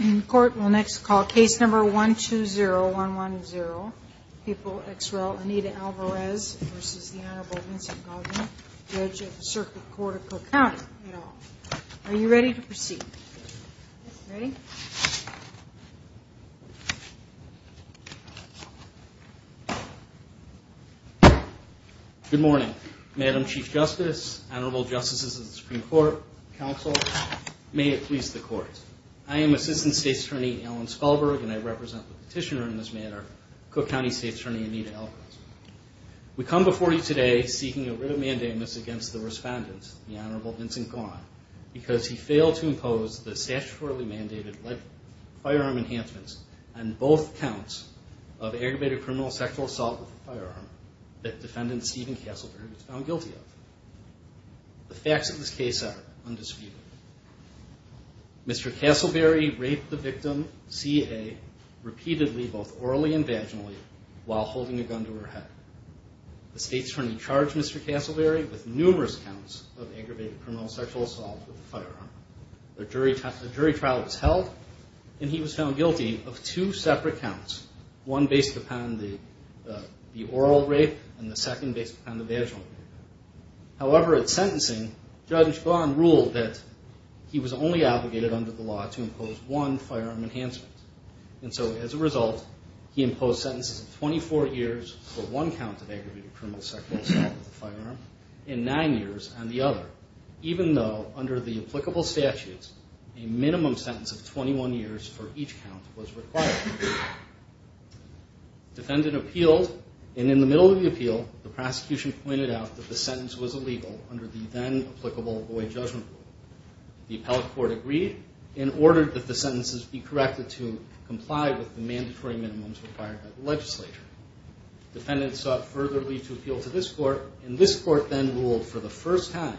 In court, we'll next call case number 120110. People ex rel. Anita Alvarez v. the Honorable Vincent Gaughan, Judge of the Circuit Court of Cook County, et al. Are you ready to proceed? Ready? Good morning. Madam Chief Justice, Honorable Justices of the Supreme Court, Counsel, may it please the Court. I am Assistant State's Attorney Alan Spalberg, and I represent the petitioner in this matter, Cook County State's Attorney Anita Alvarez. We come before you today seeking a writ of mandamus against the Respondent, the Honorable Vincent Gaughan, because he failed to impose the statutorily mandated firearm enhancements and both counts of aggravated criminal sexual assault with a firearm that Defendant Stephen Castleberry was found guilty of. The facts of this case are undisputed. Mr. Castleberry raped the victim, C.A., repeatedly, both orally and vaginally, while holding a gun to her head. The State's Attorney charged Mr. Castleberry with numerous counts of aggravated criminal sexual assault with a firearm. The jury trial was held, and he was found guilty of two separate counts, one based upon the oral rape and the second based upon the vaginal rape. However, at sentencing, Judge Gaughan ruled that he was only obligated under the law to impose one firearm enhancement. And so, as a result, he imposed sentences of 24 years for one count of aggravated criminal sexual assault with a firearm, and nine years on the other, even though, under the applicable statutes, a minimum sentence of 21 years for each count was required. Defendant appealed, and in the middle of the appeal, the prosecution pointed out that the sentence was illegal under the then-applicable Boyd Judgment Rule. The appellate court agreed, and ordered that the sentences be corrected to comply with the mandatory minimums required by the legislature. Defendants sought further lead to appeal to this court, and this court then ruled for the first time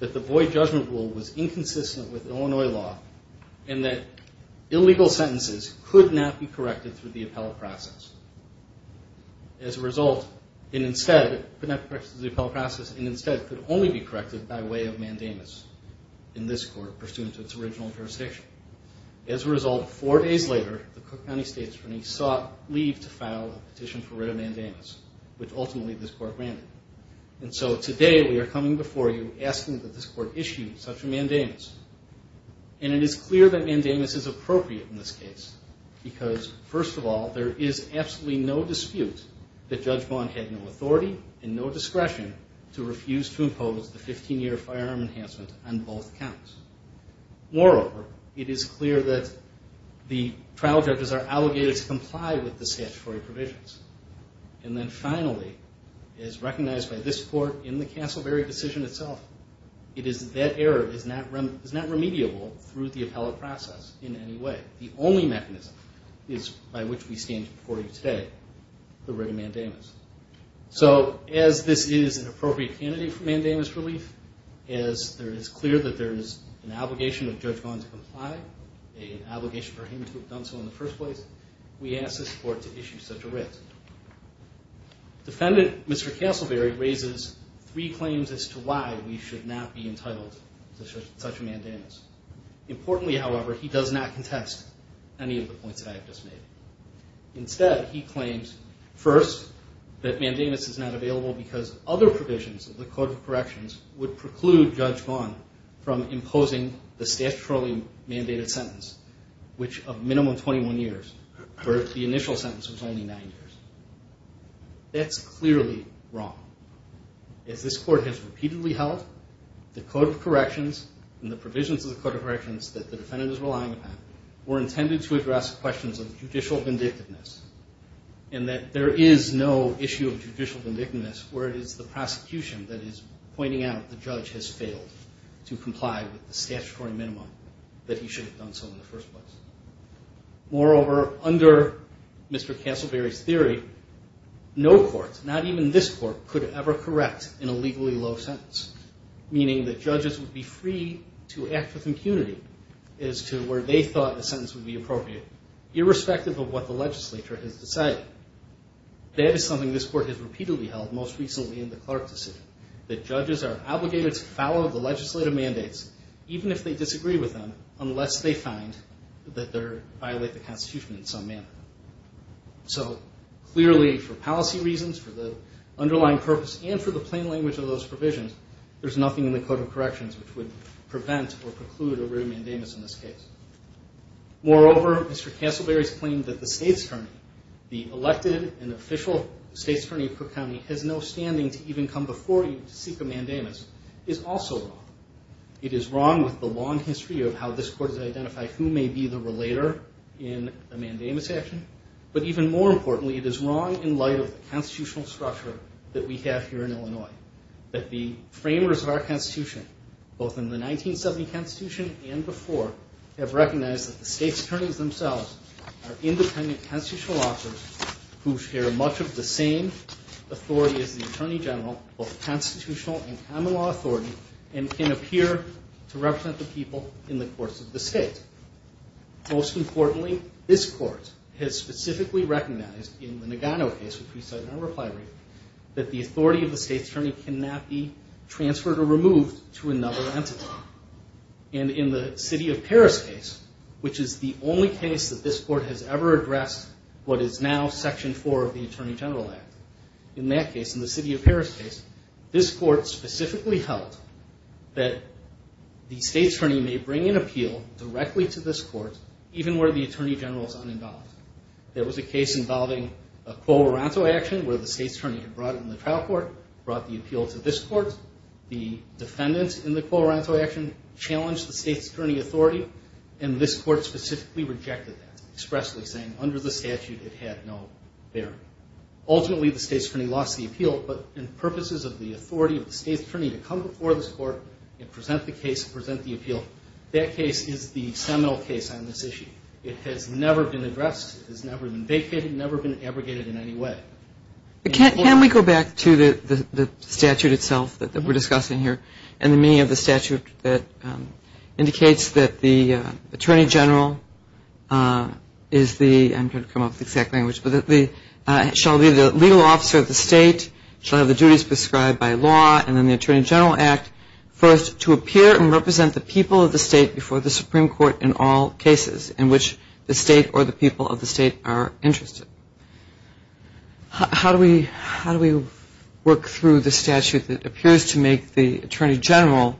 that the Boyd Judgment Rule was inconsistent with Illinois law, and that illegal sentences could not be corrected through the appellate process. As a result, it instead could not be corrected through the appellate process, and instead could only be corrected by way of mandamus in this court, pursuant to its original jurisdiction. As a result, four days later, the Cook County State Attorney sought leave to file a petition for writ of mandamus, which ultimately this court granted. And so today, we are coming before you asking that this court issue such a mandamus. And it is clear that mandamus is appropriate in this case, because first of all, there is absolutely no dispute that Judge Bond had no authority and no discretion to refuse to impose the 15-year firearm enhancement on both counts. Moreover, it is clear that the trial judges are alleged to comply with the statutory provisions. And then finally, as recognized by this court in the Castleberry decision itself, it is that that error is not remediable through the appellate process in any way. The only mechanism by which we stand before you today, the writ of mandamus. So as this is an appropriate candidate for mandamus relief, as it is clear that there is an obligation of Judge Bond to comply, an obligation for him to have done so in the first place, we ask this court to issue such a writ. Defendant Mr. Castleberry raises three claims as to why we should not be entitled to such a mandamus. Importantly, however, he does not contest any of the points that I have just made. Instead, he claims, first, that mandamus is not available because other provisions of the Code of Corrections would preclude Judge Bond from imposing the statutorily mandated sentence, which of minimum 21 years, whereas the initial sentence was only nine years. That's clearly wrong. As this court has repeatedly held, the Code of Corrections and the provisions of the Code of Corrections that the defendant is relying upon were intended to address questions of judicial vindictiveness, and that there is no issue of judicial vindictiveness where it is the prosecution that is pointing out the judge has failed to comply with the statutory minimum that he should have done so in the first place. Moreover, under Mr. Castleberry's theory, no court, not even this court, could ever correct in a legally low sentence, meaning that judges would be free to act with impunity as to where they thought the sentence would be appropriate, irrespective of what the legislature has decided. That is something this court has repeatedly held, most recently in the Clark decision, that judges are obligated to follow the legislative mandates, even if they disagree with them, unless they find that the court has failed to comply. So clearly, for policy reasons, for the underlying purpose, and for the plain language of those provisions, there's nothing in the Code of Corrections which would prevent or preclude a rare mandamus in this case. Moreover, Mr. Castleberry's claim that the elected and official state's attorney of Cook County has no standing to even come before you to seek a mandamus is also wrong. It is wrong with the long history of how this court has identified who may be the relator in a mandamus action. But even more importantly, it is wrong in light of the constitutional structure that we have here in Illinois. That the framers of our Constitution, both in the 1970 Constitution and before, have recognized that the state's attorneys themselves are independent constitutional officers who share much of the same authority as the Attorney General, both constitutional and common law authority, and can apply to any case. And who appear to represent the people in the courts of the state. Most importantly, this court has specifically recognized in the Nagano case, which we cite in our reply brief, that the authority of the state's attorney cannot be transferred or removed to another entity. And in the city of Paris case, which is the only case that this court has ever addressed what is now Section 4 of the Attorney General Act, in that case, in the city of Paris case, this court specifically held that it was not appropriate for the state's attorney to be transferred or removed to another entity. That the state's attorney may bring an appeal directly to this court, even where the Attorney General is uninvolved. There was a case involving a co-oronto action where the state's attorney had brought it in the trial court, brought the appeal to this court. The defendants in the co-oronto action challenged the state's attorney authority, and this court specifically rejected that. Expressly saying, under the statute, it had no bearing. Ultimately, the state's attorney lost the appeal, but in purposes of the authority of the state's attorney to come before this court and present the case and present the appeal, that case is the seminal case on this issue. It has never been addressed. It has never been vacated. It has never been abrogated in any way. Can we go back to the statute itself that we're discussing here, and the meaning of the statute that indicates that the Attorney General is the, I'm trying to come up with the exact language, but the Attorney General is the person who holds the authority of the state's attorney. The Attorney General shall be the legal officer of the state, shall have the duties prescribed by law, and then the Attorney General Act, first, to appear and represent the people of the state before the Supreme Court in all cases in which the state or the people of the state are interested. How do we work through the statute that appears to make the Attorney General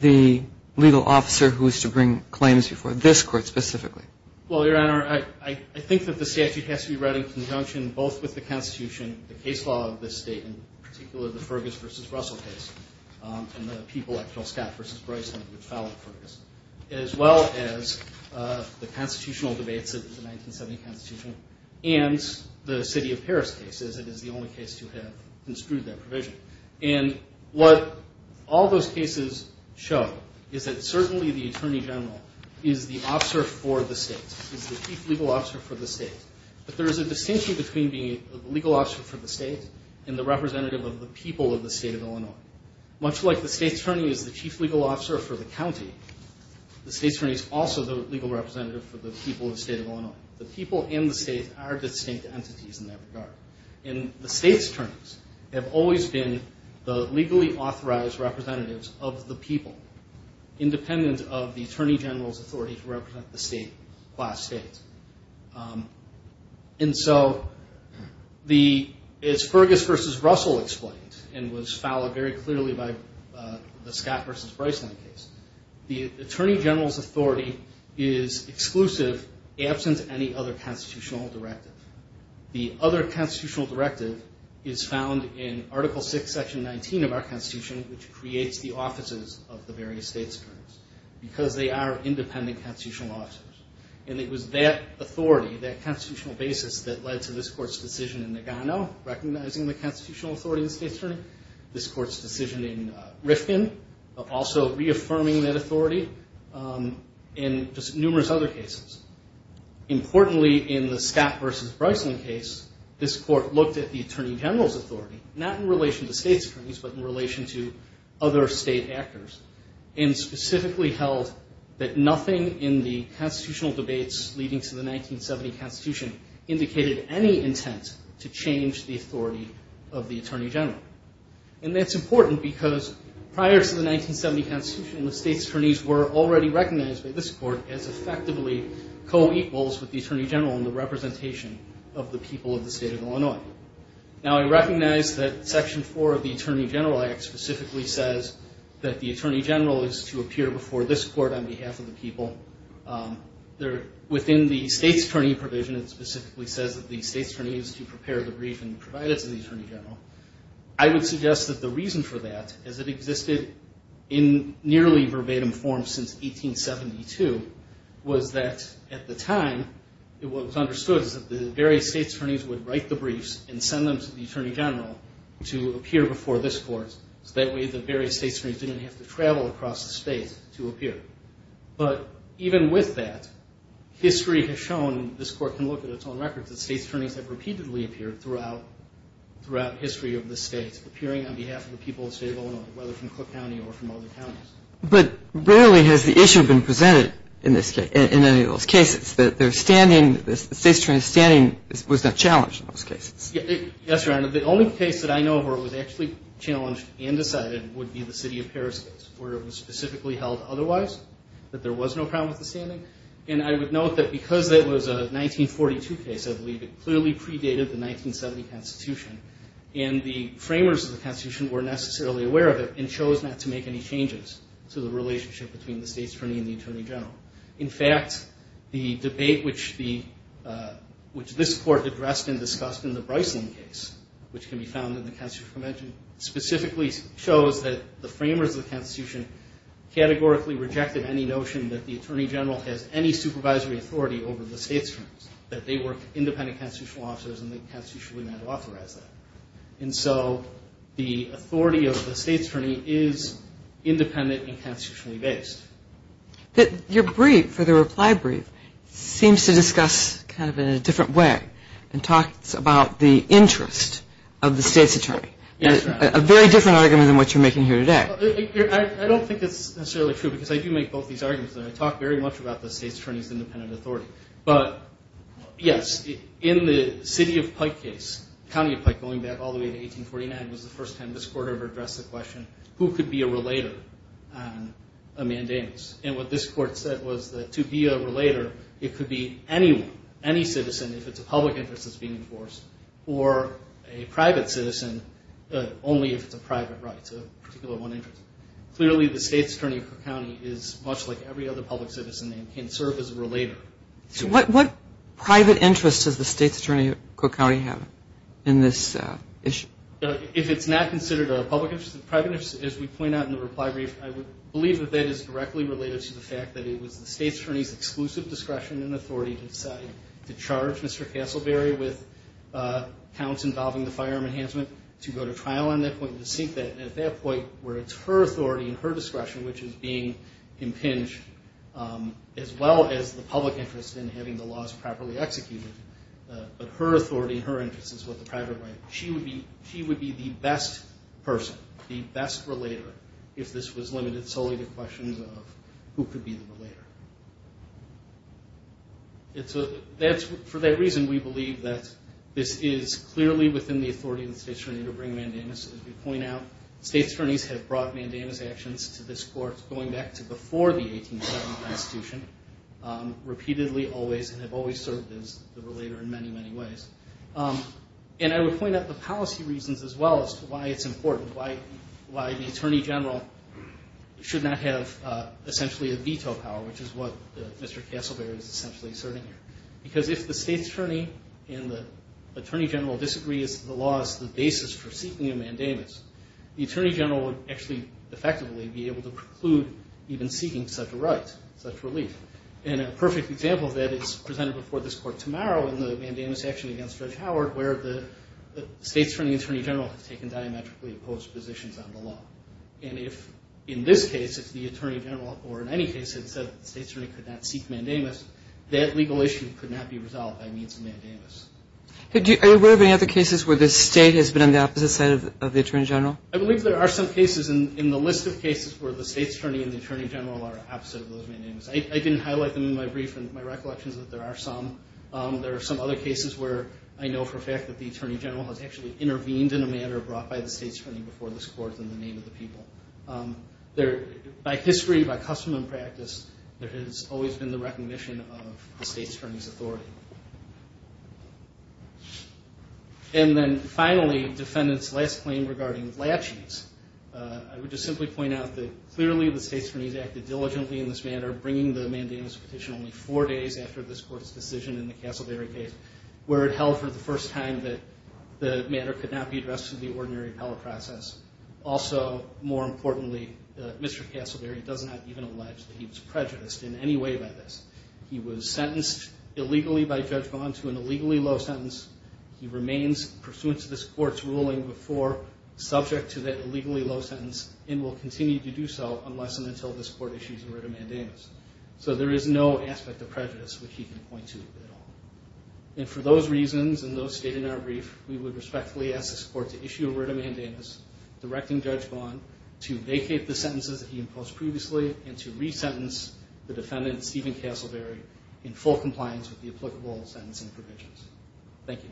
the legal officer who is to bring claims before this court specifically? Well, Your Honor, I think that the statute has to be read in conjunction both with the Constitution, the case law of this state, in particular the Fergus v. Russell case, and the people like Phil Scott v. Bryson who fouled Fergus, as well as the Constitutional debates of the 1970 Constitution, and the city of Paris case, as it is the only case to have construed that provision. And what all those cases show is that certainly the Attorney General is the officer for the state, is the chief legal officer for the state. But there is a distinction between being a legal officer for the state and the representative of the people of the state of Illinois. Much like the state's attorney is the chief legal officer for the county, the state's attorney is also the legal representative for the people of the state of Illinois. The people and the state are distinct entities in that regard. And the state's attorneys have always been the legally authorized representatives of the people, independent of the Attorney General's authority to represent the state by state. And so, as Fergus v. Russell explained, and was followed very clearly by the Scott v. Bryson case, the Attorney General's authority is exclusive, absent, and independent. The other constitutional directive is found in Article VI, Section 19 of our Constitution, which creates the offices of the various state's attorneys. Because they are independent constitutional officers. And it was that authority, that constitutional basis, that led to this Court's decision in Nagano, recognizing the constitutional authority of the state's attorney. This Court's decision in Rifkin, also reaffirming that authority. And just numerous other cases. Importantly, in the Scott v. Bryson case, this Court looked at the Attorney General's authority, not in relation to state's attorneys, but in relation to other state actors. And specifically held that nothing in the constitutional debates leading to the 1970 Constitution indicated any intent to change the authority of the Attorney General. And that's important, because prior to the 1970 Constitution, the state's attorneys were already recognized by this Court as effectively co-equals with the Attorney General in the representation of the people of the state of Illinois. Now, I recognize that Section 4 of the Attorney General Act specifically says that the Attorney General is to appear before this Court on behalf of the people. Within the state's attorney provision, it specifically says that the state's attorney is to prepare the brief and provide it to the Attorney General. I would suggest that the reason for that, as it existed in nearly verbatim form since 1872, was that at the time, it was understood that the various state's attorneys would write the briefs and send them to the Attorney General to appear before this Court. So that way, the various state's attorneys didn't have to travel across the state to appear. But even with that, history has shown, this Court can look at its own records, that state's attorneys have repeatedly appeared throughout history of this state. Appearing on behalf of the people of the state of Illinois, whether from Cook County or from other counties. But rarely has the issue been presented in any of those cases, that the state's attorney's standing was not challenged in those cases. Yes, Your Honor. The only case that I know of where it was actually challenged and decided would be the City of Paris case, where it was specifically held otherwise, that there was no problem with the standing. And I would note that because it was a 1942 case, I believe it clearly predated the 1970 Constitution. And the framers of the Constitution were necessarily aware of it, and chose not to make any changes to the relationship between the state's attorney and the Attorney General. In fact, the debate which this Court addressed and discussed in the Bryslin case, which can be found in the Constitutional Convention, specifically shows that the framers of the Constitution categorically rejected any notion that the Attorney General has any supervisory authority over the state's attorneys. That they were independent constitutional officers, and the Constitution would not authorize that. And so, the authority of the state's attorney is independent and constitutionally based. Your brief, for the reply brief, seems to discuss kind of in a different way, and talks about the interest of the state's attorney. Yes, Your Honor. A very different argument than what you're making here today. I don't think it's necessarily true, because I do make both these arguments, and I talk very much about the state's attorney's independent authority. But, yes, in the City of Pike case, County of Pike, going back all the way to 1849, was the first time this Court ever addressed the question, who could be a relator on a mandamus? And what this Court said was that to be a relator, it could be anyone, any citizen, if it's a public interest that's being enforced, or a private citizen, only if it's a private right. It's a particular one interest. Clearly, the state's attorney of Cook County is much like every other public citizen, and can serve as a relator. So what private interest does the state's attorney of Cook County have in this issue? If it's not considered a public interest, a private interest, as we point out in the reply brief, I would believe that that is directly related to the fact that it was the state's attorney's exclusive discretion and authority to decide to charge Mr. Castleberry with counts involving the firearm enhancement, to go to trial on that point, to seek that, and at that point, where it's her authority and her discretion which is being impinged, as well as the public interest in having the laws properly executed. But her authority and her interest is what the private right. She would be the best person, the best relator, if this was limited solely to questions of who could be the relator. For that reason, we believe that this is clearly within the authority of the state's attorney to bring mandamus. As we point out, state's attorneys have brought mandamus actions to this court going back to before the 1870 constitution, repeatedly, always, and have always served as the relator in many, many ways. And I would point out the policy reasons as well as to why it's important, why the attorney general should not have, essentially, a veto power, which is what Mr. Castleberry is essentially asserting here. Because if the state's attorney and the attorney general disagrees that the law is the basis for seeking a mandamus, the attorney general would actually, effectively, be able to preclude even seeking such a right, such relief. And a perfect example of that is presented before this court tomorrow in the mandamus action against Judge Howard, where the state's attorney and attorney general have taken diametrically opposed positions on the law. And if, in this case, if the attorney general, or in any case, had said that the state's attorney could not seek mandamus, that legal issue could not be resolved by means of mandamus. Do you have any other cases where the state has been on the opposite side of the attorney general? I believe there are some cases in the list of cases where the state's attorney and the attorney general are opposite of those mandamus. I didn't highlight them in my brief and my recollections that there are some. There are some other cases where I know for a fact that the attorney general has actually intervened in a manner brought by the state's attorney before this court in the name of the people. By history, by custom and practice, there has always been the recognition of the state's attorney's authority. And then, finally, defendant's last claim regarding laches. I would just simply point out that clearly the state's attorneys acted diligently in this matter, bringing the mandamus petition only four days after this court's decision in the Casselberry case, where it held for the first time that the matter could not be addressed in the ordinary appellate process. Also, more importantly, Mr. Casselberry does not even allege that he was prejudiced in any way by this. He was sentenced illegally by Judge Bond to an illegally low sentence. He remains, pursuant to this court's ruling before, subject to that illegally low sentence and will continue to do so unless and until this court issues a writ of mandamus. So there is no aspect of prejudice which he can point to at all. And for those reasons and those stated in our brief, we would respectfully ask this court to issue a writ of mandamus directing Judge Bond to vacate the sentences that he imposed previously and to resentence the defendant, Stephen Casselberry, in full compliance with the applicable sentencing provisions. Thank you.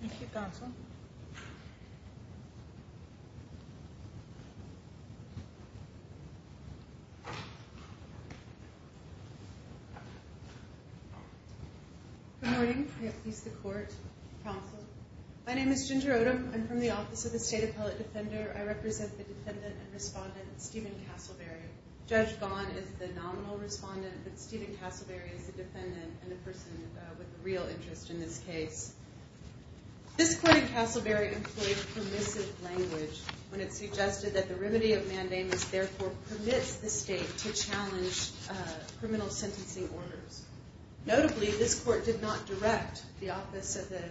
Thank you, Counsel. Good morning. May it please the Court. Counsel. My name is Ginger Odom. I'm from the Office of the State Appellate Defender. I represent the defendant and respondent, Stephen Casselberry. Judge Bond is the nominal respondent, but Stephen Casselberry is the defendant and the person with the real interest in this case. This court in Casselberry employed permissive language when it suggested that the remedy of mandamus therefore permits the state to challenge criminal sentencing orders. Notably, this court did not direct the Office of the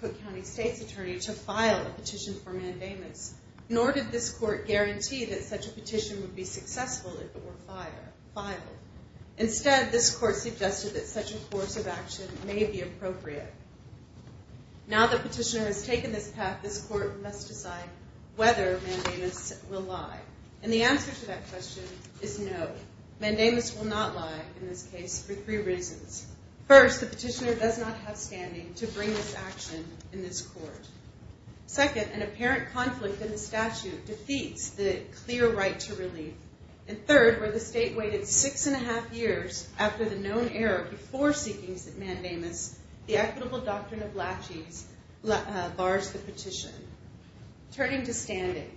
Cook County State's Attorney to file a petition for mandamus, nor did this court guarantee that such a petition would be successful if it were filed. Instead, this court suggested that such a course of action may be appropriate. Now that petitioner has taken this path, this court must decide whether mandamus will lie. And the answer to that question is no. Mandamus will not lie in this case for three reasons. First, the petitioner does not have standing to bring this action in this court. Second, an apparent conflict in the statute defeats the clear right to relief. And third, where the state waited six and a half years after the known error before seeking mandamus, the equitable doctrine of laches bars the petition. Turning to standing,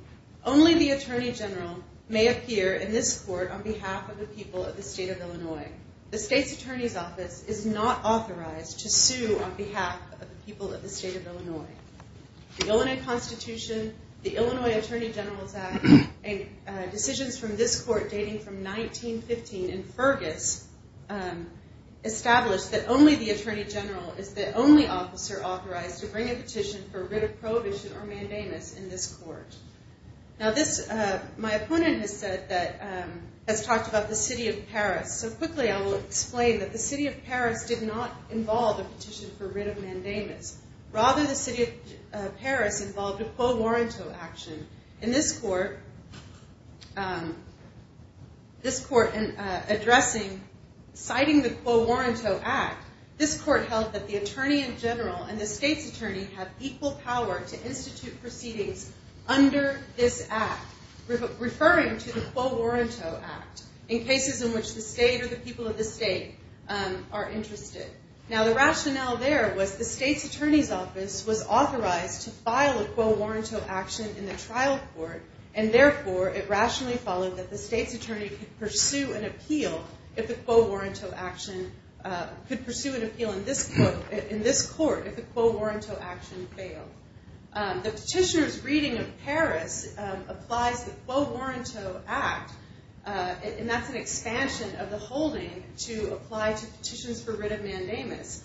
only the Attorney General may appear in this court on behalf of the people of the state of Illinois. The State's Attorney's Office is not authorized to sue on behalf of the people of the state of Illinois. The Illinois Constitution, the Illinois Attorney General's Act, and decisions from this court dating from 1915 in Fergus established that only the Attorney General is the only officer authorized to bring a petition for writ of prohibition or mandamus in this court. Now this, my opponent has said that, has talked about the city of Paris. So quickly I will explain that the city of Paris did not involve a petition for writ of mandamus. Rather, the city of Paris involved a quo warranto action. In this court, this court in addressing, citing the quo warranto act, this court held that the Attorney General and the State's Attorney have equal power to institute proceedings under this act, referring to the quo warranto act in cases in which the state or the people of the state are interested. Now the rationale there was the State's Attorney's Office was authorized to file a quo warranto action in the trial court, and therefore it rationally followed that the State's Attorney could pursue an appeal if the quo warranto action, could pursue an appeal in this court if the quo warranto action failed. The petitioner's reading of Paris applies the quo warranto act, and that's an expansion of the holding to apply to petitions for writ of mandamus.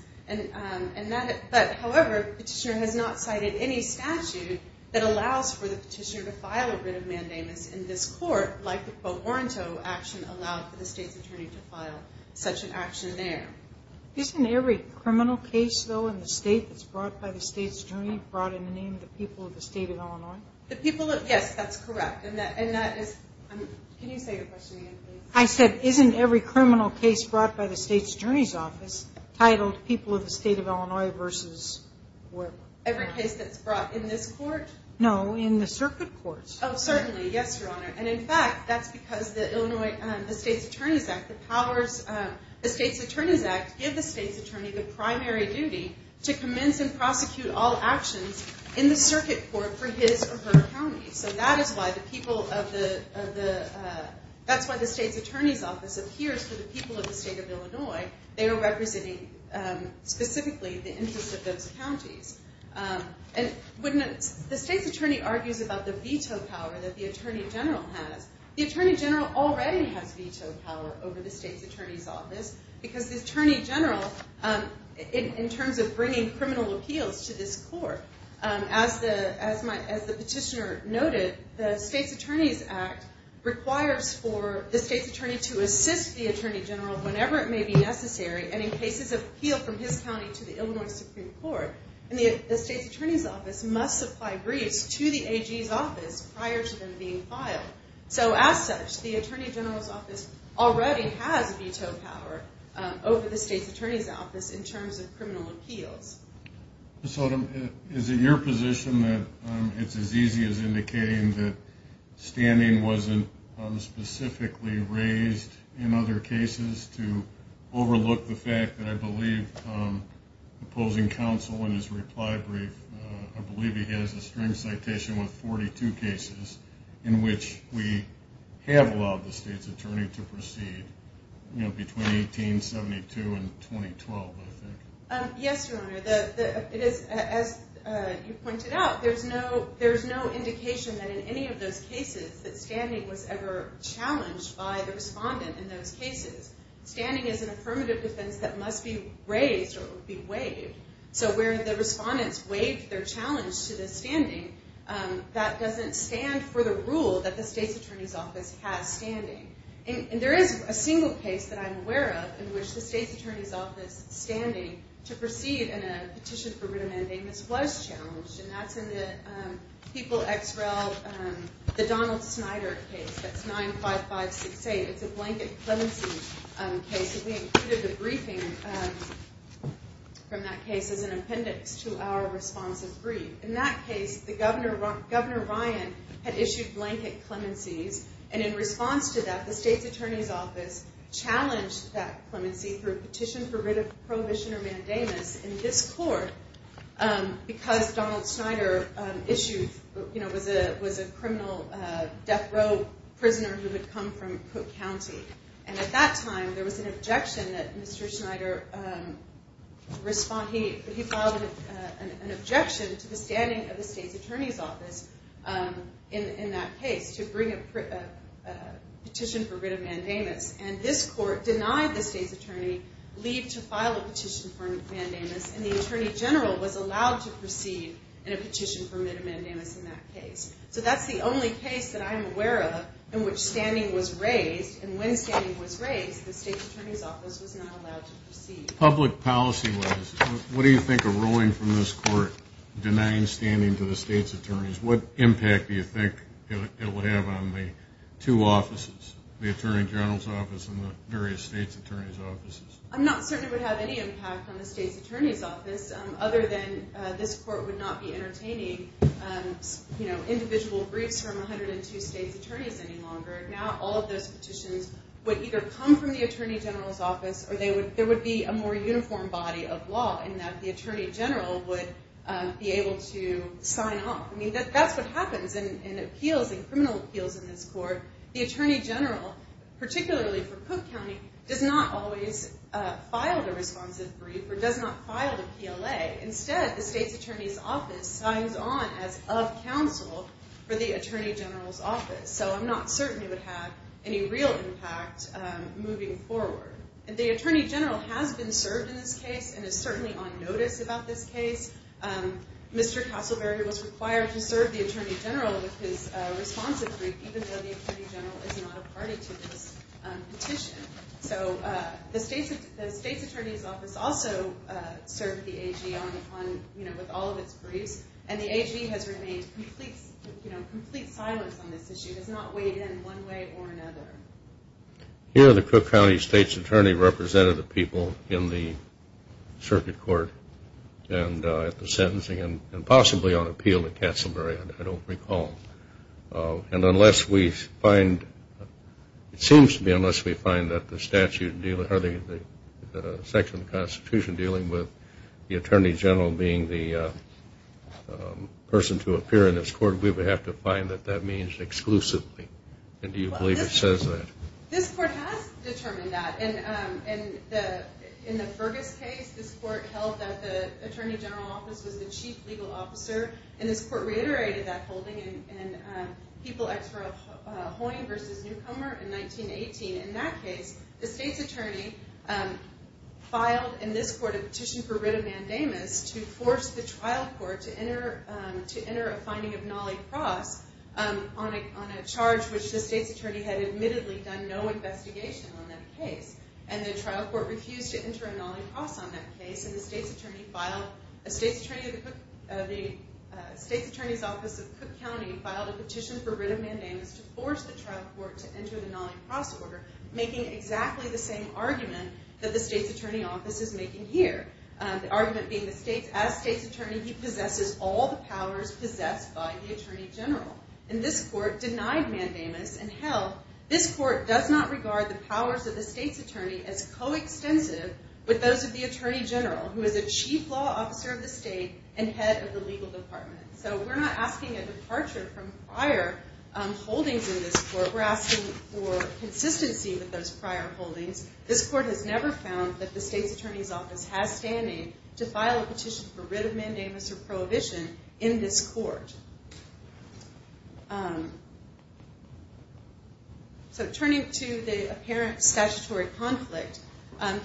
However, the petitioner has not cited any statute that allows for the petitioner to file a writ of mandamus in this court, like the quo warranto action allowed for the State's Attorney to file such an action there. Isn't every criminal case, though, in the state that's brought by the State's Attorney brought in the name of the people of the state of Illinois? Yes, that's correct. And that is, can you say your question again, please? I said, isn't every criminal case brought by the State's Attorney's Office titled people of the state of Illinois versus whoever? Every case that's brought in this court? No, in the circuit courts. Oh, certainly, yes, Your Honor. And in fact, that's because the Illinois, the State's Attorney's Act, the powers, the State's Attorney's Act, give the State's Attorney the primary duty to commence and prosecute all actions in the circuit court for his or her county. So that is why the people of the, that's why the State's Attorney's Office appears for the people of the state of Illinois. They are representing specifically the interests of those counties. The State's Attorney argues about the veto power that the Attorney General has. The Attorney General already has veto power over the State's Attorney's Office because the Attorney General, in terms of bringing criminal appeals to this court, as the petitioner noted, the State's Attorney's Act requires for the State's Attorney to assist the Attorney General whenever it may be necessary. And in cases of appeal from his county to the Illinois Supreme Court, the State's Attorney's Office must supply briefs to the AG's office prior to them being filed. So as such, the Attorney General's Office already has veto power over the State's Attorney's Office in terms of criminal appeals. So is it your position that it's as easy as indicating that standing wasn't specifically raised in other cases to overlook the fact that I believe opposing counsel in his reply brief, I believe he has a string citation with 42 cases in which we have allowed the State's Attorney to proceed, you know, between 1872 and 2012, I think? Yes, Your Honor. As you pointed out, there's no indication that in any of those cases that standing was ever challenged by the respondent in those cases. Standing is an affirmative defense that must be raised or be waived. So where the respondents waived their challenge to the standing, that doesn't stand for the rule that the State's Attorney's Office has standing. And there is a single case that I'm aware of in which the State's Attorney's Office standing to proceed in a petition for writ amending was challenged. And that's in the People x Rel, the Donald Snyder case. That's 95568. It's a blanket clemency case. We included a briefing from that case as an appendix to our responsive brief. In that case, Governor Ryan had issued blanket clemencies, and in response to that, the State's Attorney's Office challenged that clemency through a petition for writ of prohibition or mandamus in this court because Donald Snyder was a criminal death row prisoner who had come from Cook County. And at that time, there was an objection that Mr. Snyder, he filed an objection to the standing of the State's Attorney's Office in that case to bring a petition for writ of mandamus. And this court denied the State's Attorney leave to file a petition for writ of mandamus, and the Attorney General was allowed to proceed in a petition for writ of mandamus in that case. So that's the only case that I'm aware of in which standing was raised. And when standing was raised, the State's Attorney's Office was not allowed to proceed. Public policy-wise, what do you think a ruling from this court denying standing to the State's Attorney's Office, what impact do you think it would have on the two offices, the Attorney General's Office and the various State's Attorney's Offices? I'm not certain it would have any impact on the State's Attorney's Office other than this court would not be entertaining individual briefs from 102 State's Attorneys any longer. Now all of those petitions would either come from the Attorney General's Office or there would be a more uniform body of law in that the Attorney General would be able to sign off. I mean, that's what happens in appeals, in criminal appeals in this court. The Attorney General, particularly for Cook County, does not always respond as of counsel for the Attorney General's Office. So I'm not certain it would have any real impact moving forward. The Attorney General has been served in this case and is certainly on notice about this case. Mr. Castleberry was required to serve the Attorney General with his responsive brief even though the Attorney General is not a party to this petition. So the State's Attorney's Office also served the AG with all of its briefs and the AG has remained in complete silence on this issue. It has not weighed in one way or another. Here the Cook County State's Attorney represented the people in the circuit court and at the sentencing and possibly on appeal to Castleberry, I don't recall. And unless we find, it seems to me, unless we find that the statute, or the section of the Constitution dealing with the Attorney General being the person to appear in this court, we would have to find that that means exclusively. And do you believe it says that? This court has determined that. In the Fergus case, this court reiterated that holding in People Extra Hoying v. Newcomer in 1918. In that case, the State's Attorney filed in this court a petition for writ of mandamus to force the trial court to enter a finding of nollie cross on a charge which the State's Attorney had admittedly done no investigation on that case. And the trial court refused to enter a nollie cross on that case and the State's Attorney filed, the State's Attorney's office of Cook County filed a petition for writ of mandamus to force the trial court to enter the nollie cross order making exactly the same argument that the State's Attorney office is making here. The argument being as State's Attorney he possesses all the powers possessed by the Attorney General. And this court denied mandamus and held this court does not regard the powers of the State's Attorney as co-extensive with those of the Attorney General who is a chief law officer of the state and head of the legal department. So we're not asking a departure from prior holdings in this court. We're asking for consistency with those prior holdings. This court has never found that the State's Attorney's office has standing to file a petition for writ of mandamus or prohibition in this court. So turning to the apparent statutory conflict,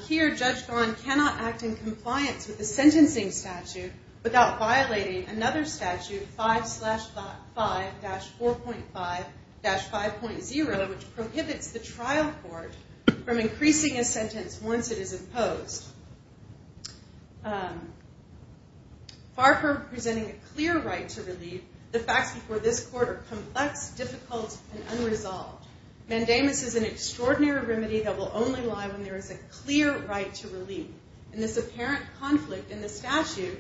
here Judge Don cannot act in compliance with the sentencing statute without violating another statute 5 slash 5 dash 4.5 dash 5.0 which prohibits the trial court from increasing a sentence once it is imposed. Far from presenting a clear right to relief, the facts before this court are complex, difficult, and unresolved. Mandamus is an extraordinary remedy that will only lie when there is a clear right to relief. And this apparent conflict in the statute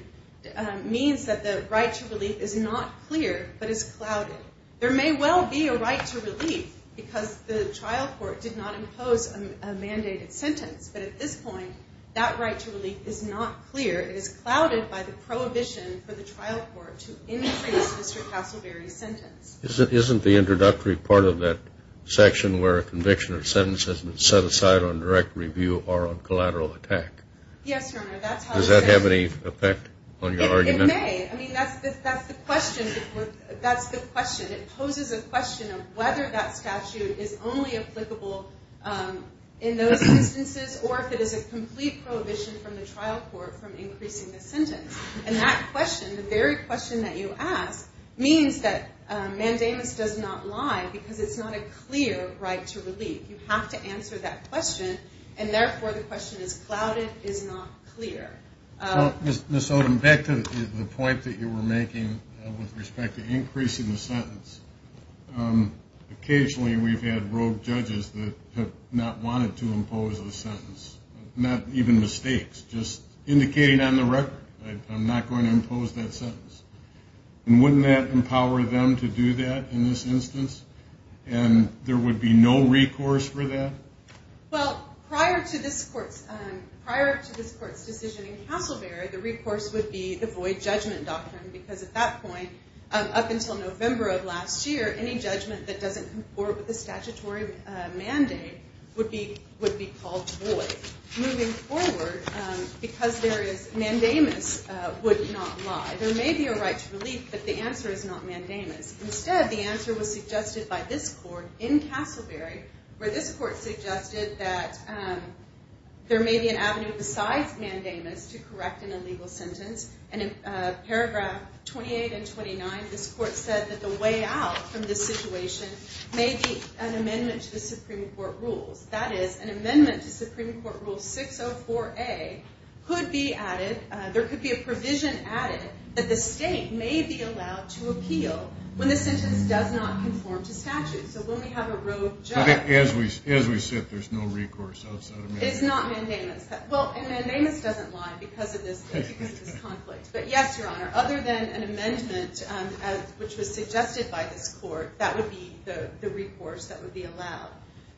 means that the right to relief is not clear but is clouded. There may well be a right to relief because the trial court did not impose a mandated sentence, but at this point that right to relief is not clear. It is clouded by the prohibition for the trial court to increase Mr. Castleberry's sentence. Isn't the introductory part of that section where a conviction or sentence has been set aside on direct review or on collateral attack? Yes, Your Honor. Does that have any effect on your argument? It may. I mean, that's the question. That's the question. It poses a question of whether that statute is only applicable in those instances or if it is a complete prohibition from the trial court from increasing the sentence. And that question, the very question that you ask, means that Mandamus does not lie because it's not a clear right to relief. You have to answer that question, and therefore the question is clouded, is not clear. Ms. Odom, back to the point that you were making with respect to increasing the sentence. Occasionally we've had rogue judges that have not wanted to impose a sentence, not even mistakes, just indicating on the record, I'm not going to impose that sentence. And wouldn't that empower them to do that in this instance? And there would be no recourse for that? Well, prior to this court's decision in Castleberry, the recourse would be the void judgment doctrine because at that point, up until November of last year, any judgment that doesn't comport with the statutory mandate would be called void. Moving forward, because there is Mandamus would not lie. There may be a right to relief, but the answer is not Mandamus. Instead, the answer was suggested by this court in Castleberry, where this court suggested that there may be an avenue besides Mandamus to correct an illegal sentence. And in paragraph 28 and 29, this court said that the way out from this situation may be an amendment to the Supreme Court rules. That is, an amendment to Supreme Court Rule 604A could be added, there could be a provision added, that the state may be allowed to appeal when the sentence does not conform to statute. So when we have a rogue judge... As we sit, there's no recourse outside of Mandamus. It's not Mandamus. Well, and Mandamus doesn't lie because of this conflict. But yes, Your Honor, other than an amendment, which was suggested by this court, that would be the recourse that would be allowed.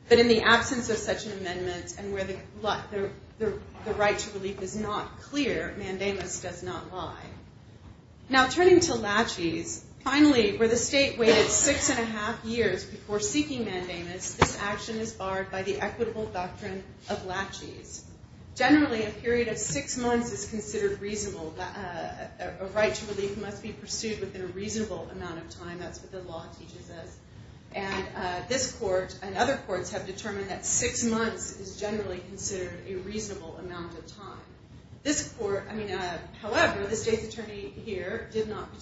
But in the absence of such an amendment, and where the right to relief is not clear, Mandamus does not lie. Now, turning to laches, finally, where the state waited six and a half years before seeking Mandamus, this action is barred by the equitable doctrine of laches. Generally, a period of six months is considered reasonable. A right to relief must be pursued within a reasonable amount of time. That's what the law teaches us. And this court and other courts have determined that six months is generally considered a reasonable amount of time. However, the state's attorney here did not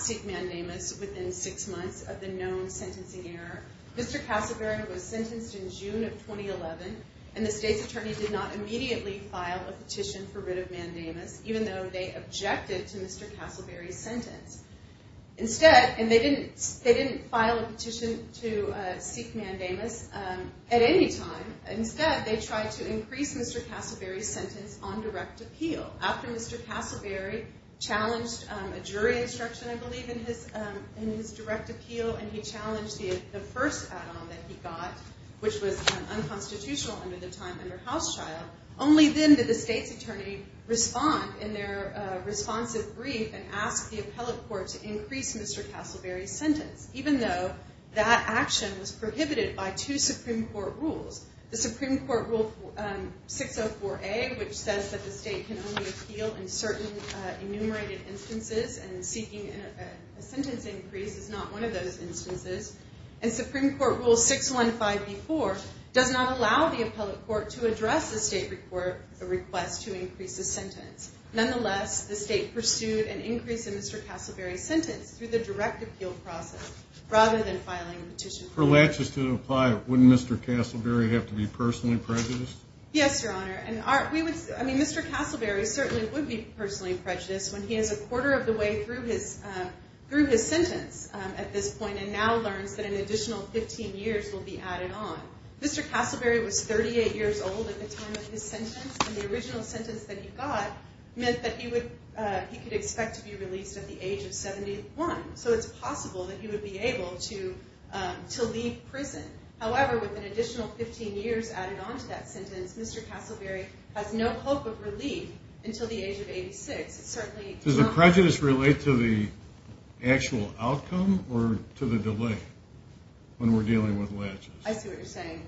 seek Mandamus within six months of the known sentencing error. Mr. Castleberry was sentenced in June of 2011, and the state's attorney did not immediately file a petition for rid of Mandamus, even though they objected to Mr. Castleberry's sentence. Instead, and they didn't file a petition to seek Mandamus at any time. Instead, they tried to increase Mr. Castleberry's sentence in a direct appeal. After Mr. Castleberry challenged a jury instruction, I believe, in his direct appeal, and he challenged the first add-on that he got, which was unconstitutional under the House trial, only then did the state's attorney respond in their responsive brief and ask the appellate court to increase Mr. Castleberry's sentence, even though that action was unconstitutional. The state can only appeal in certain enumerated instances, and seeking a sentence increase is not one of those instances. And Supreme Court Rule 615B4 does not allow the appellate court to address the state request to increase the sentence. Nonetheless, the state pursued an increase in Mr. Castleberry's sentence through the direct appeal process rather than filing a petition. For laches to apply, wouldn't Mr. Castleberry have to be personally prejudiced? Yes, Your Honor. I mean, Mr. Castleberry certainly would be personally prejudiced when he is a quarter of the way through his sentence at this point and now learns that an additional 15 years will be added on. Mr. Castleberry was 38 years old at the time of his sentence, and the original sentence that he got meant that he would he could expect to be released at the age of 71, so it's possible that he would be able to leave prison. However, with an additional 15 years added on to that sentence, Mr. Castleberry has no hope of relief until the age of 86. Does the prejudice relate to the actual outcome or to the delay when we're dealing with laches? I see what you're saying.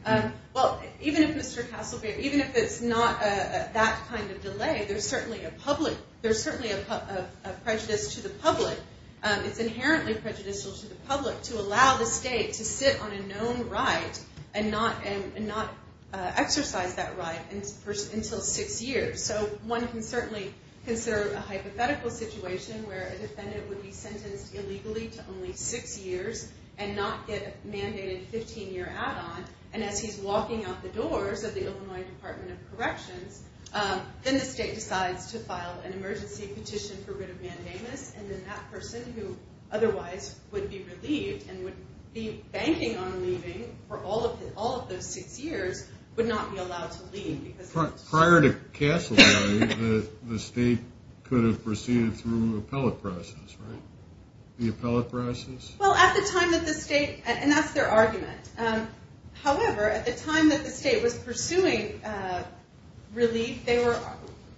Well, even if it's not that kind of delay, there's certainly a public prejudice to the public. It's inherently prejudicial to the public to allow the state to sit on a known right and not exercise that right until six years. So one can certainly consider a hypothetical situation where a defendant would be as he's walking out the doors of the Illinois Department of Corrections, then the state decides to file an emergency petition for writ of mandamus, and then that person who otherwise would be relieved and would be banking on leaving for all of those six years would not be allowed to leave. Prior to Castleberry, the state could have proceeded through an appellate process, right? The appellate process? Well, at the time that the state, and that's their argument. However, at the time that the state was pursuing relief, they were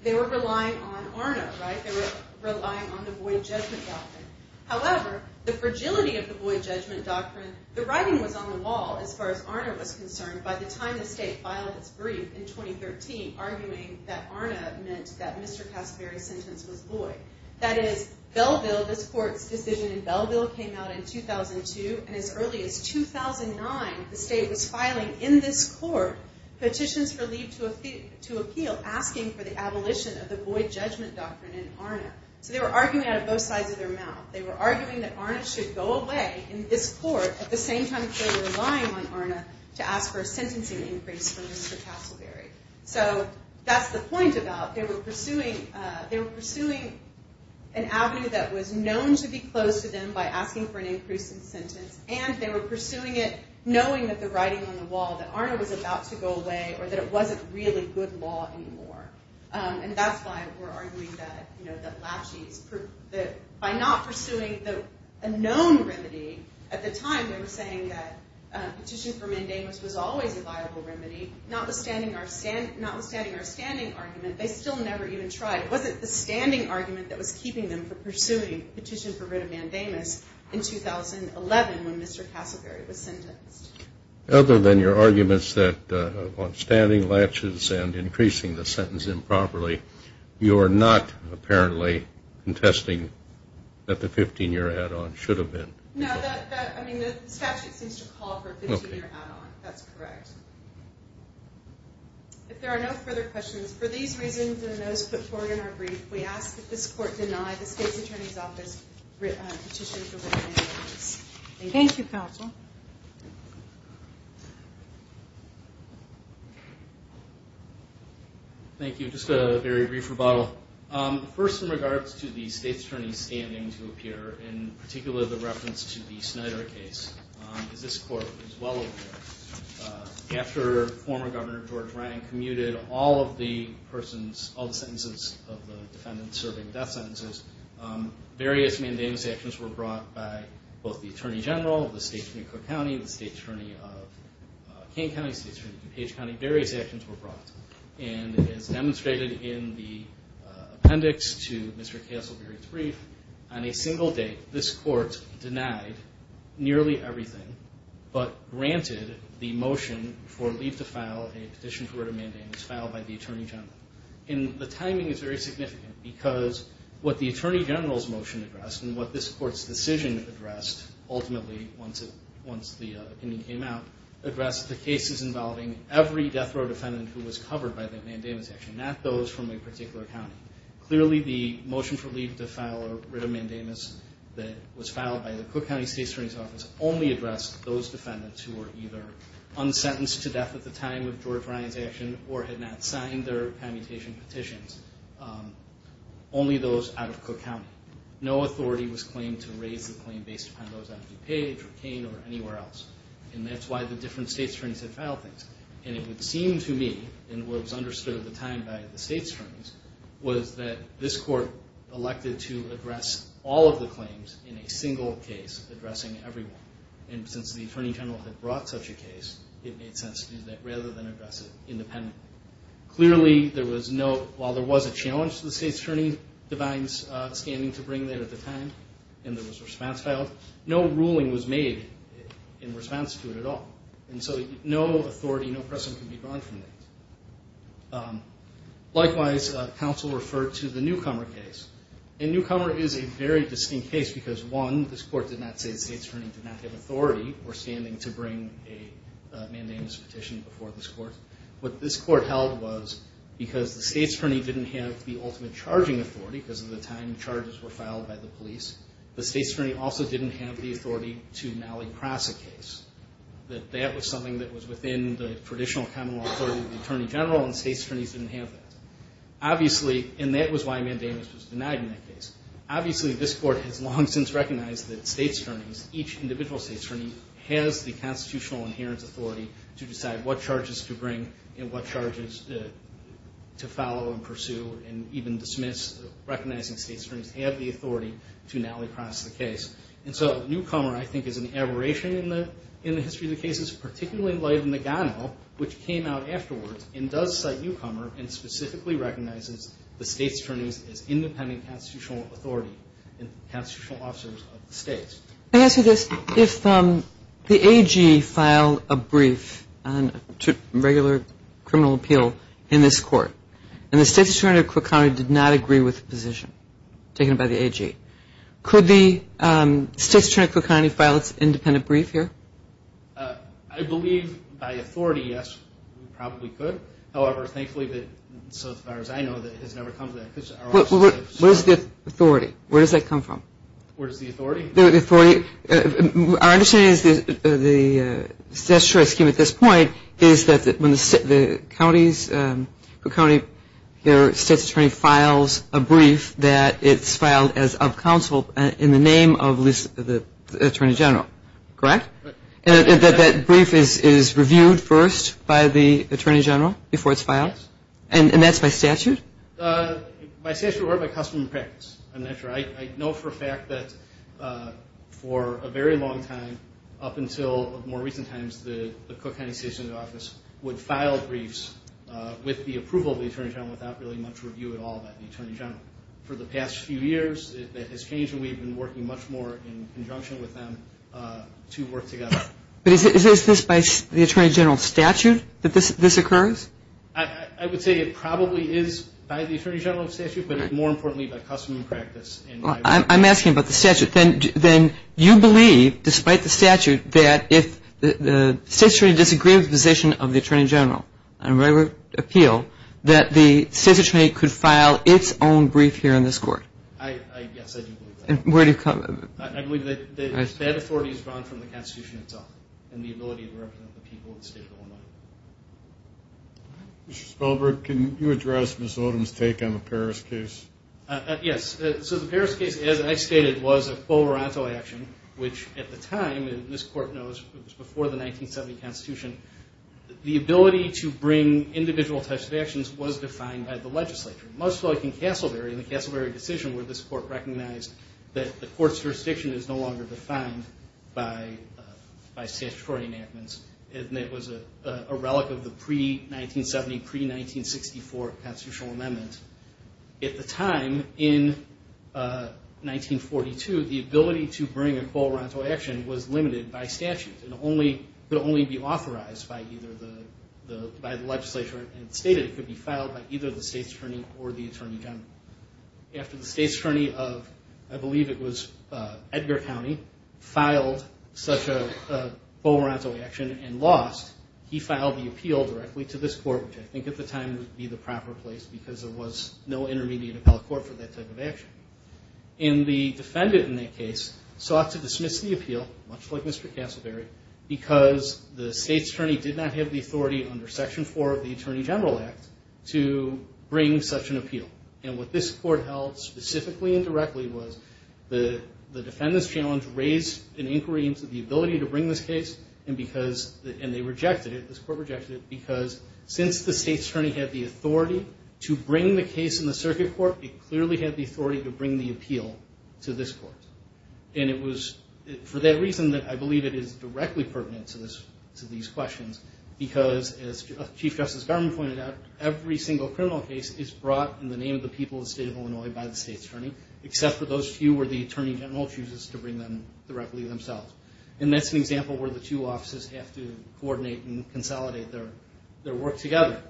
relying on ARNA, right? They were relying on the Boyd Judgment Doctrine. However, the fragility of the Boyd Judgment Doctrine, the writing was on the wall as far as ARNA was concerned by the time the state filed its brief in 2013, arguing that ARNA meant that Mr. Castleberry's sentence was Boyd. That is, Belleville, this court's decision in Belleville came out in 2002, and as early as 2009, the state was filing in this court petitions for leave to appeal asking for the abolition of the Boyd Judgment Doctrine in ARNA. So they were arguing out of both sides of their mouth. They were arguing that ARNA should go away in this court at the same time as they were relying on ARNA to ask for a sentencing increase for Mr. Castleberry. So that's the point about they were pursuing an avenue that was known to be close to them by asking for an increase in sentence, and they were pursuing it knowing that the writing on the wall, that ARNA was about to go away, or that it wasn't really good law anymore. And that's why we're arguing that by not pursuing a known remedy, at the time they were saying that petition for mandamus was always a viable remedy, notwithstanding our standing argument, they still never even tried. It wasn't the standing argument that was keeping them from pursuing petition for writ of mandamus in 2011 when Mr. Castleberry was sentenced. Other than your arguments that on standing latches and increasing the sentence improperly, you are not apparently contesting that the 15-year add-on should have been. No, the statute seems to call for a 15-year add-on. That's correct. If there are no further questions, for these reasons and those put forward in our brief, we ask that this court deny the State's Attorney's Office petition for writ of mandamus. Thank you. Thank you, Counsel. Thank you. Just a very brief rebuttal. First, in regards to the State's Attorney's standing to appear, and particularly the reference to the Snyder case, as this court is well aware, after former Governor George Ryan commuted all of the sentences of the defendant serving death sentences, various mandamus actions were brought by both the Attorney General of the State and the Attorney of Kane County, various actions were brought. As demonstrated in the appendix to Mr. Castleberry's brief, on a single date, this court denied nearly everything but granted the motion for leave to file a petition for writ of mandamus filed by the Attorney General. The timing is very significant because what the Attorney General's motion addressed and what this court's decision addressed, ultimately, once the opinion came out, addressed the cases involving every death row defendant who was covered by the mandamus action, not those from a particular county. Clearly, the motion for leave to file a writ of mandamus that was filed by the Cook County State's Attorney's Office only addressed those defendants who were either unsentenced to death at the time of George Ryan's action or had not signed their commutation petitions, only those out of Cook County. No authority was claimed to raise the claim based upon those out of DuPage or Kane or anywhere else. And that's why the different state's attorneys had filed things. And it would seem to me, and what was understood at the time by the state's attorneys, was that this court elected to address all of the claims in a single case, addressing everyone. And since the Attorney General had brought such a case, it made sense to do that rather than address it independently. Clearly, there was no, while there was a challenge to the state's attorney's standing to bring that at the time and there was a response filed, no ruling was made in response to it at all. And so no authority, no precedent can be drawn from that. Likewise, counsel referred to the Newcomer case. And Newcomer is a very distinct case because, one, this court did not say the state's attorney did not have authority or standing to bring a mandamus petition before this court. What this court held was because the state's attorney didn't have the ultimate charging authority because at the time charges were filed by the police, the state's attorney also didn't have the authority to nally cross a case. That that was something that was within the Obviously, this court has long since recognized that state's attorneys, each individual state's attorney, has the constitutional adherence authority to decide what charges to bring and what charges to follow and pursue and even dismiss recognizing state's attorneys have the authority to nally cross the case. And so Newcomer, I think, is an aberration in the history of the cases, particularly in light of Nagano, which came out afterwards, and does cite Newcomer and specifically recognizes the state's attorneys as independent constitutional authority and constitutional officers of the states. If the AG filed a brief to regular criminal appeal in this court and the state's attorney did not agree with the position taken by the AG, could the state's attorney file its independent brief here? I believe by authority, yes, we probably could. However, thankfully, so far as I know, it has never come to that. Where's the authority? Where does that come from? Our understanding is that the state's choice scheme at this point is that when the county's state's attorney files a brief, that it's filed as of counsel in the name of the attorney general, correct? And that brief is reviewed first by the attorney general before it's filed? And that's by statute? By statute or by custom and practice. I'm not sure. I know for a fact that for a very long time, up until more recent times, the Cook County State's Attorney's Office would file briefs with the approval of the attorney general without really much review at all by the attorney general. For the past few years, that has changed and we've been working much more in conjunction with them to work together. But is this by the attorney general's statute that this occurs? I would say it probably is by the attorney general's statute, but more importantly, by custom and practice. I'm asking about the statute. Then you believe, despite the statute, that if the state's attorney disagrees with the position of the attorney general, on a regular appeal, that the state's attorney could file its own brief here in this court? Yes, I do believe that. I believe that that authority is drawn from the Constitution itself and the ability to represent the people of the state of Illinois. Mr. Spelberg, can you address Ms. Odom's take on the Paris case? Yes, so the Paris case, as I stated, was a Colorado action, which at the time, as this court knows, was before the 1970 Constitution. The ability to bring individual types of actions was defined by the legislature, much like in Castleberry, in the Castleberry decision where this court recognized that the court's jurisdiction is no longer defined by statutory enactments. It was a relic of the pre-1970, pre-1964 constitutional amendment. At the time, in 1942, the ability to bring a Colorado action was limited by statute. It could only be authorized by the legislature and stated it could be filed by either the state's attorney or the attorney general. After the state's attorney of, I believe it was Edgar County, filed such a Colorado action and lost, he filed the appeal directly to this court, which I think at the time would be the proper place because there was no intermediate appellate court for that type of action. And the defendant in that case sought to dismiss the appeal, much like Mr. Castleberry, because the state's attorney did not have the authority under Section 4 of the Attorney General Act to bring such an appeal. And what this court held specifically and directly was the defendant's challenge raised an inquiry into the ability to bring this case, and they rejected it, this court rejected it, because since the state's attorney had the authority to bring the case in the circuit court, it clearly had the authority to bring the appeal to this court. And it was for that reason that I believe it is directly pertinent to these questions, because as Chief Justice Garman pointed out, every single criminal case is brought in the name of the people of the state of Illinois by the state's attorney, except for those few where the attorney general chooses to bring them directly themselves. And that's an example where the two offices have to coordinate and consolidate their work together.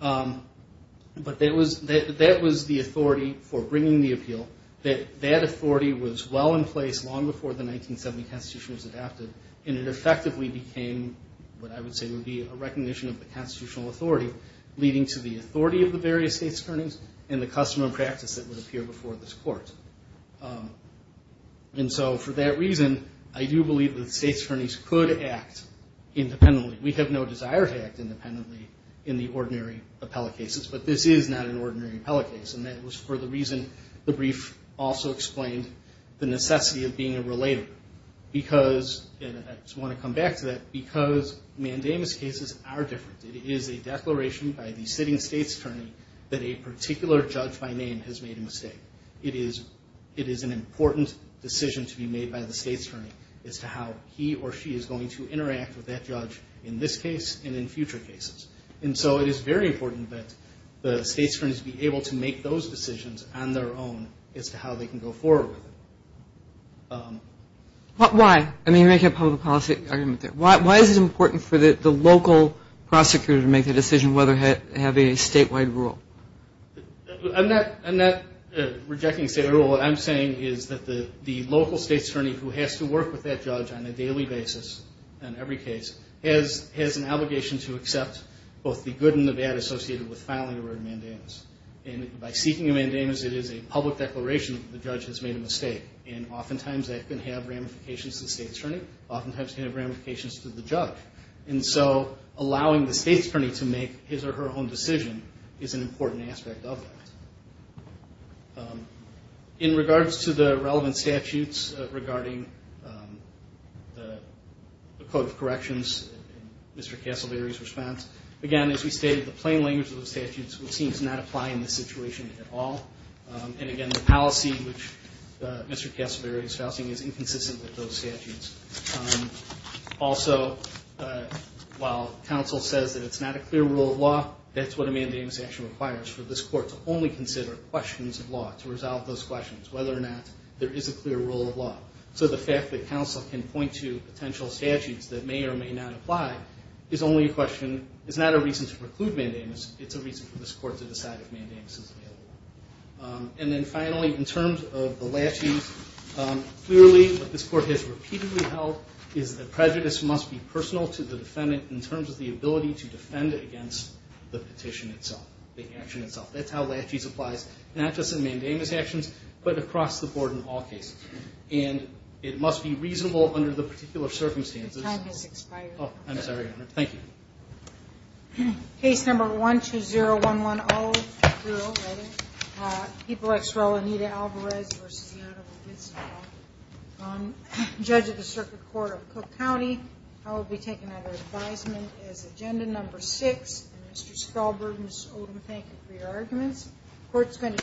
But that was the authority for bringing the appeal, that that authority was well in place long before the 1970 Constitution was adopted, and it effectively became what I would say would be a recognition of the constitutional authority, leading to the authority of the various state's attorneys and the custom and practice that would appear before this court. And so for that reason, I do believe that state's attorneys could act independently. We have no desire to act independently in the ordinary appellate cases, but this is not an ordinary appellate case, and that was for the reason the brief also explained the necessity of being a relator. And I just want to come back to that, because mandamus cases are different. It is a declaration by the sitting state's attorney that a particular judge by name has made a mistake. It is an important decision to be made by the state's attorney as to how he or she is going to interact with that judge in this case and in future cases. And so it is very important that the state's attorneys be able to make those decisions on their own as to how they can go forward with it. Why? I mean, you're making a public policy argument there. Why is it important for the local prosecutor to make the decision whether to have a statewide rule? I'm not rejecting a statewide rule. What I'm saying is that the local state's attorney who has to work with that judge on a daily basis on every case has an obligation to accept both the good and the bad associated with filing a mandamus. And by seeking a mandamus, it is a public declaration that the judge has made a mistake. He or she has made ramifications to the state's attorney, oftentimes he or she has made ramifications to the judge. And so allowing the state's attorney to make his or her own decision is an important aspect of that. In regards to the relevant statutes regarding the Code of Corrections, Mr. Casselberry's response, again, as we stated, the plain language of the statutes would seem to not apply in this situation at all. And again, the policy, which Mr. Casselberry is housing, is inconsistent with those statutes. Also, while counsel says that it's not a clear rule of law, that's what a mandamus actually requires for this court to only consider questions of law to resolve those questions, whether or not there is a clear rule of law. So the fact that counsel can point to potential statutes that may or may not apply is not a reason to preclude mandamus, it's a reason for this court to decide if mandamus is available. And then finally, in terms of the laches, clearly what this court has repeatedly held is that prejudice must be personal to the defendant in terms of the ability to defend against the petition itself, the action itself. That's how laches applies, not just in mandamus actions, but across the board in all cases. And it must be reasonable under the particular circumstances. Thank you.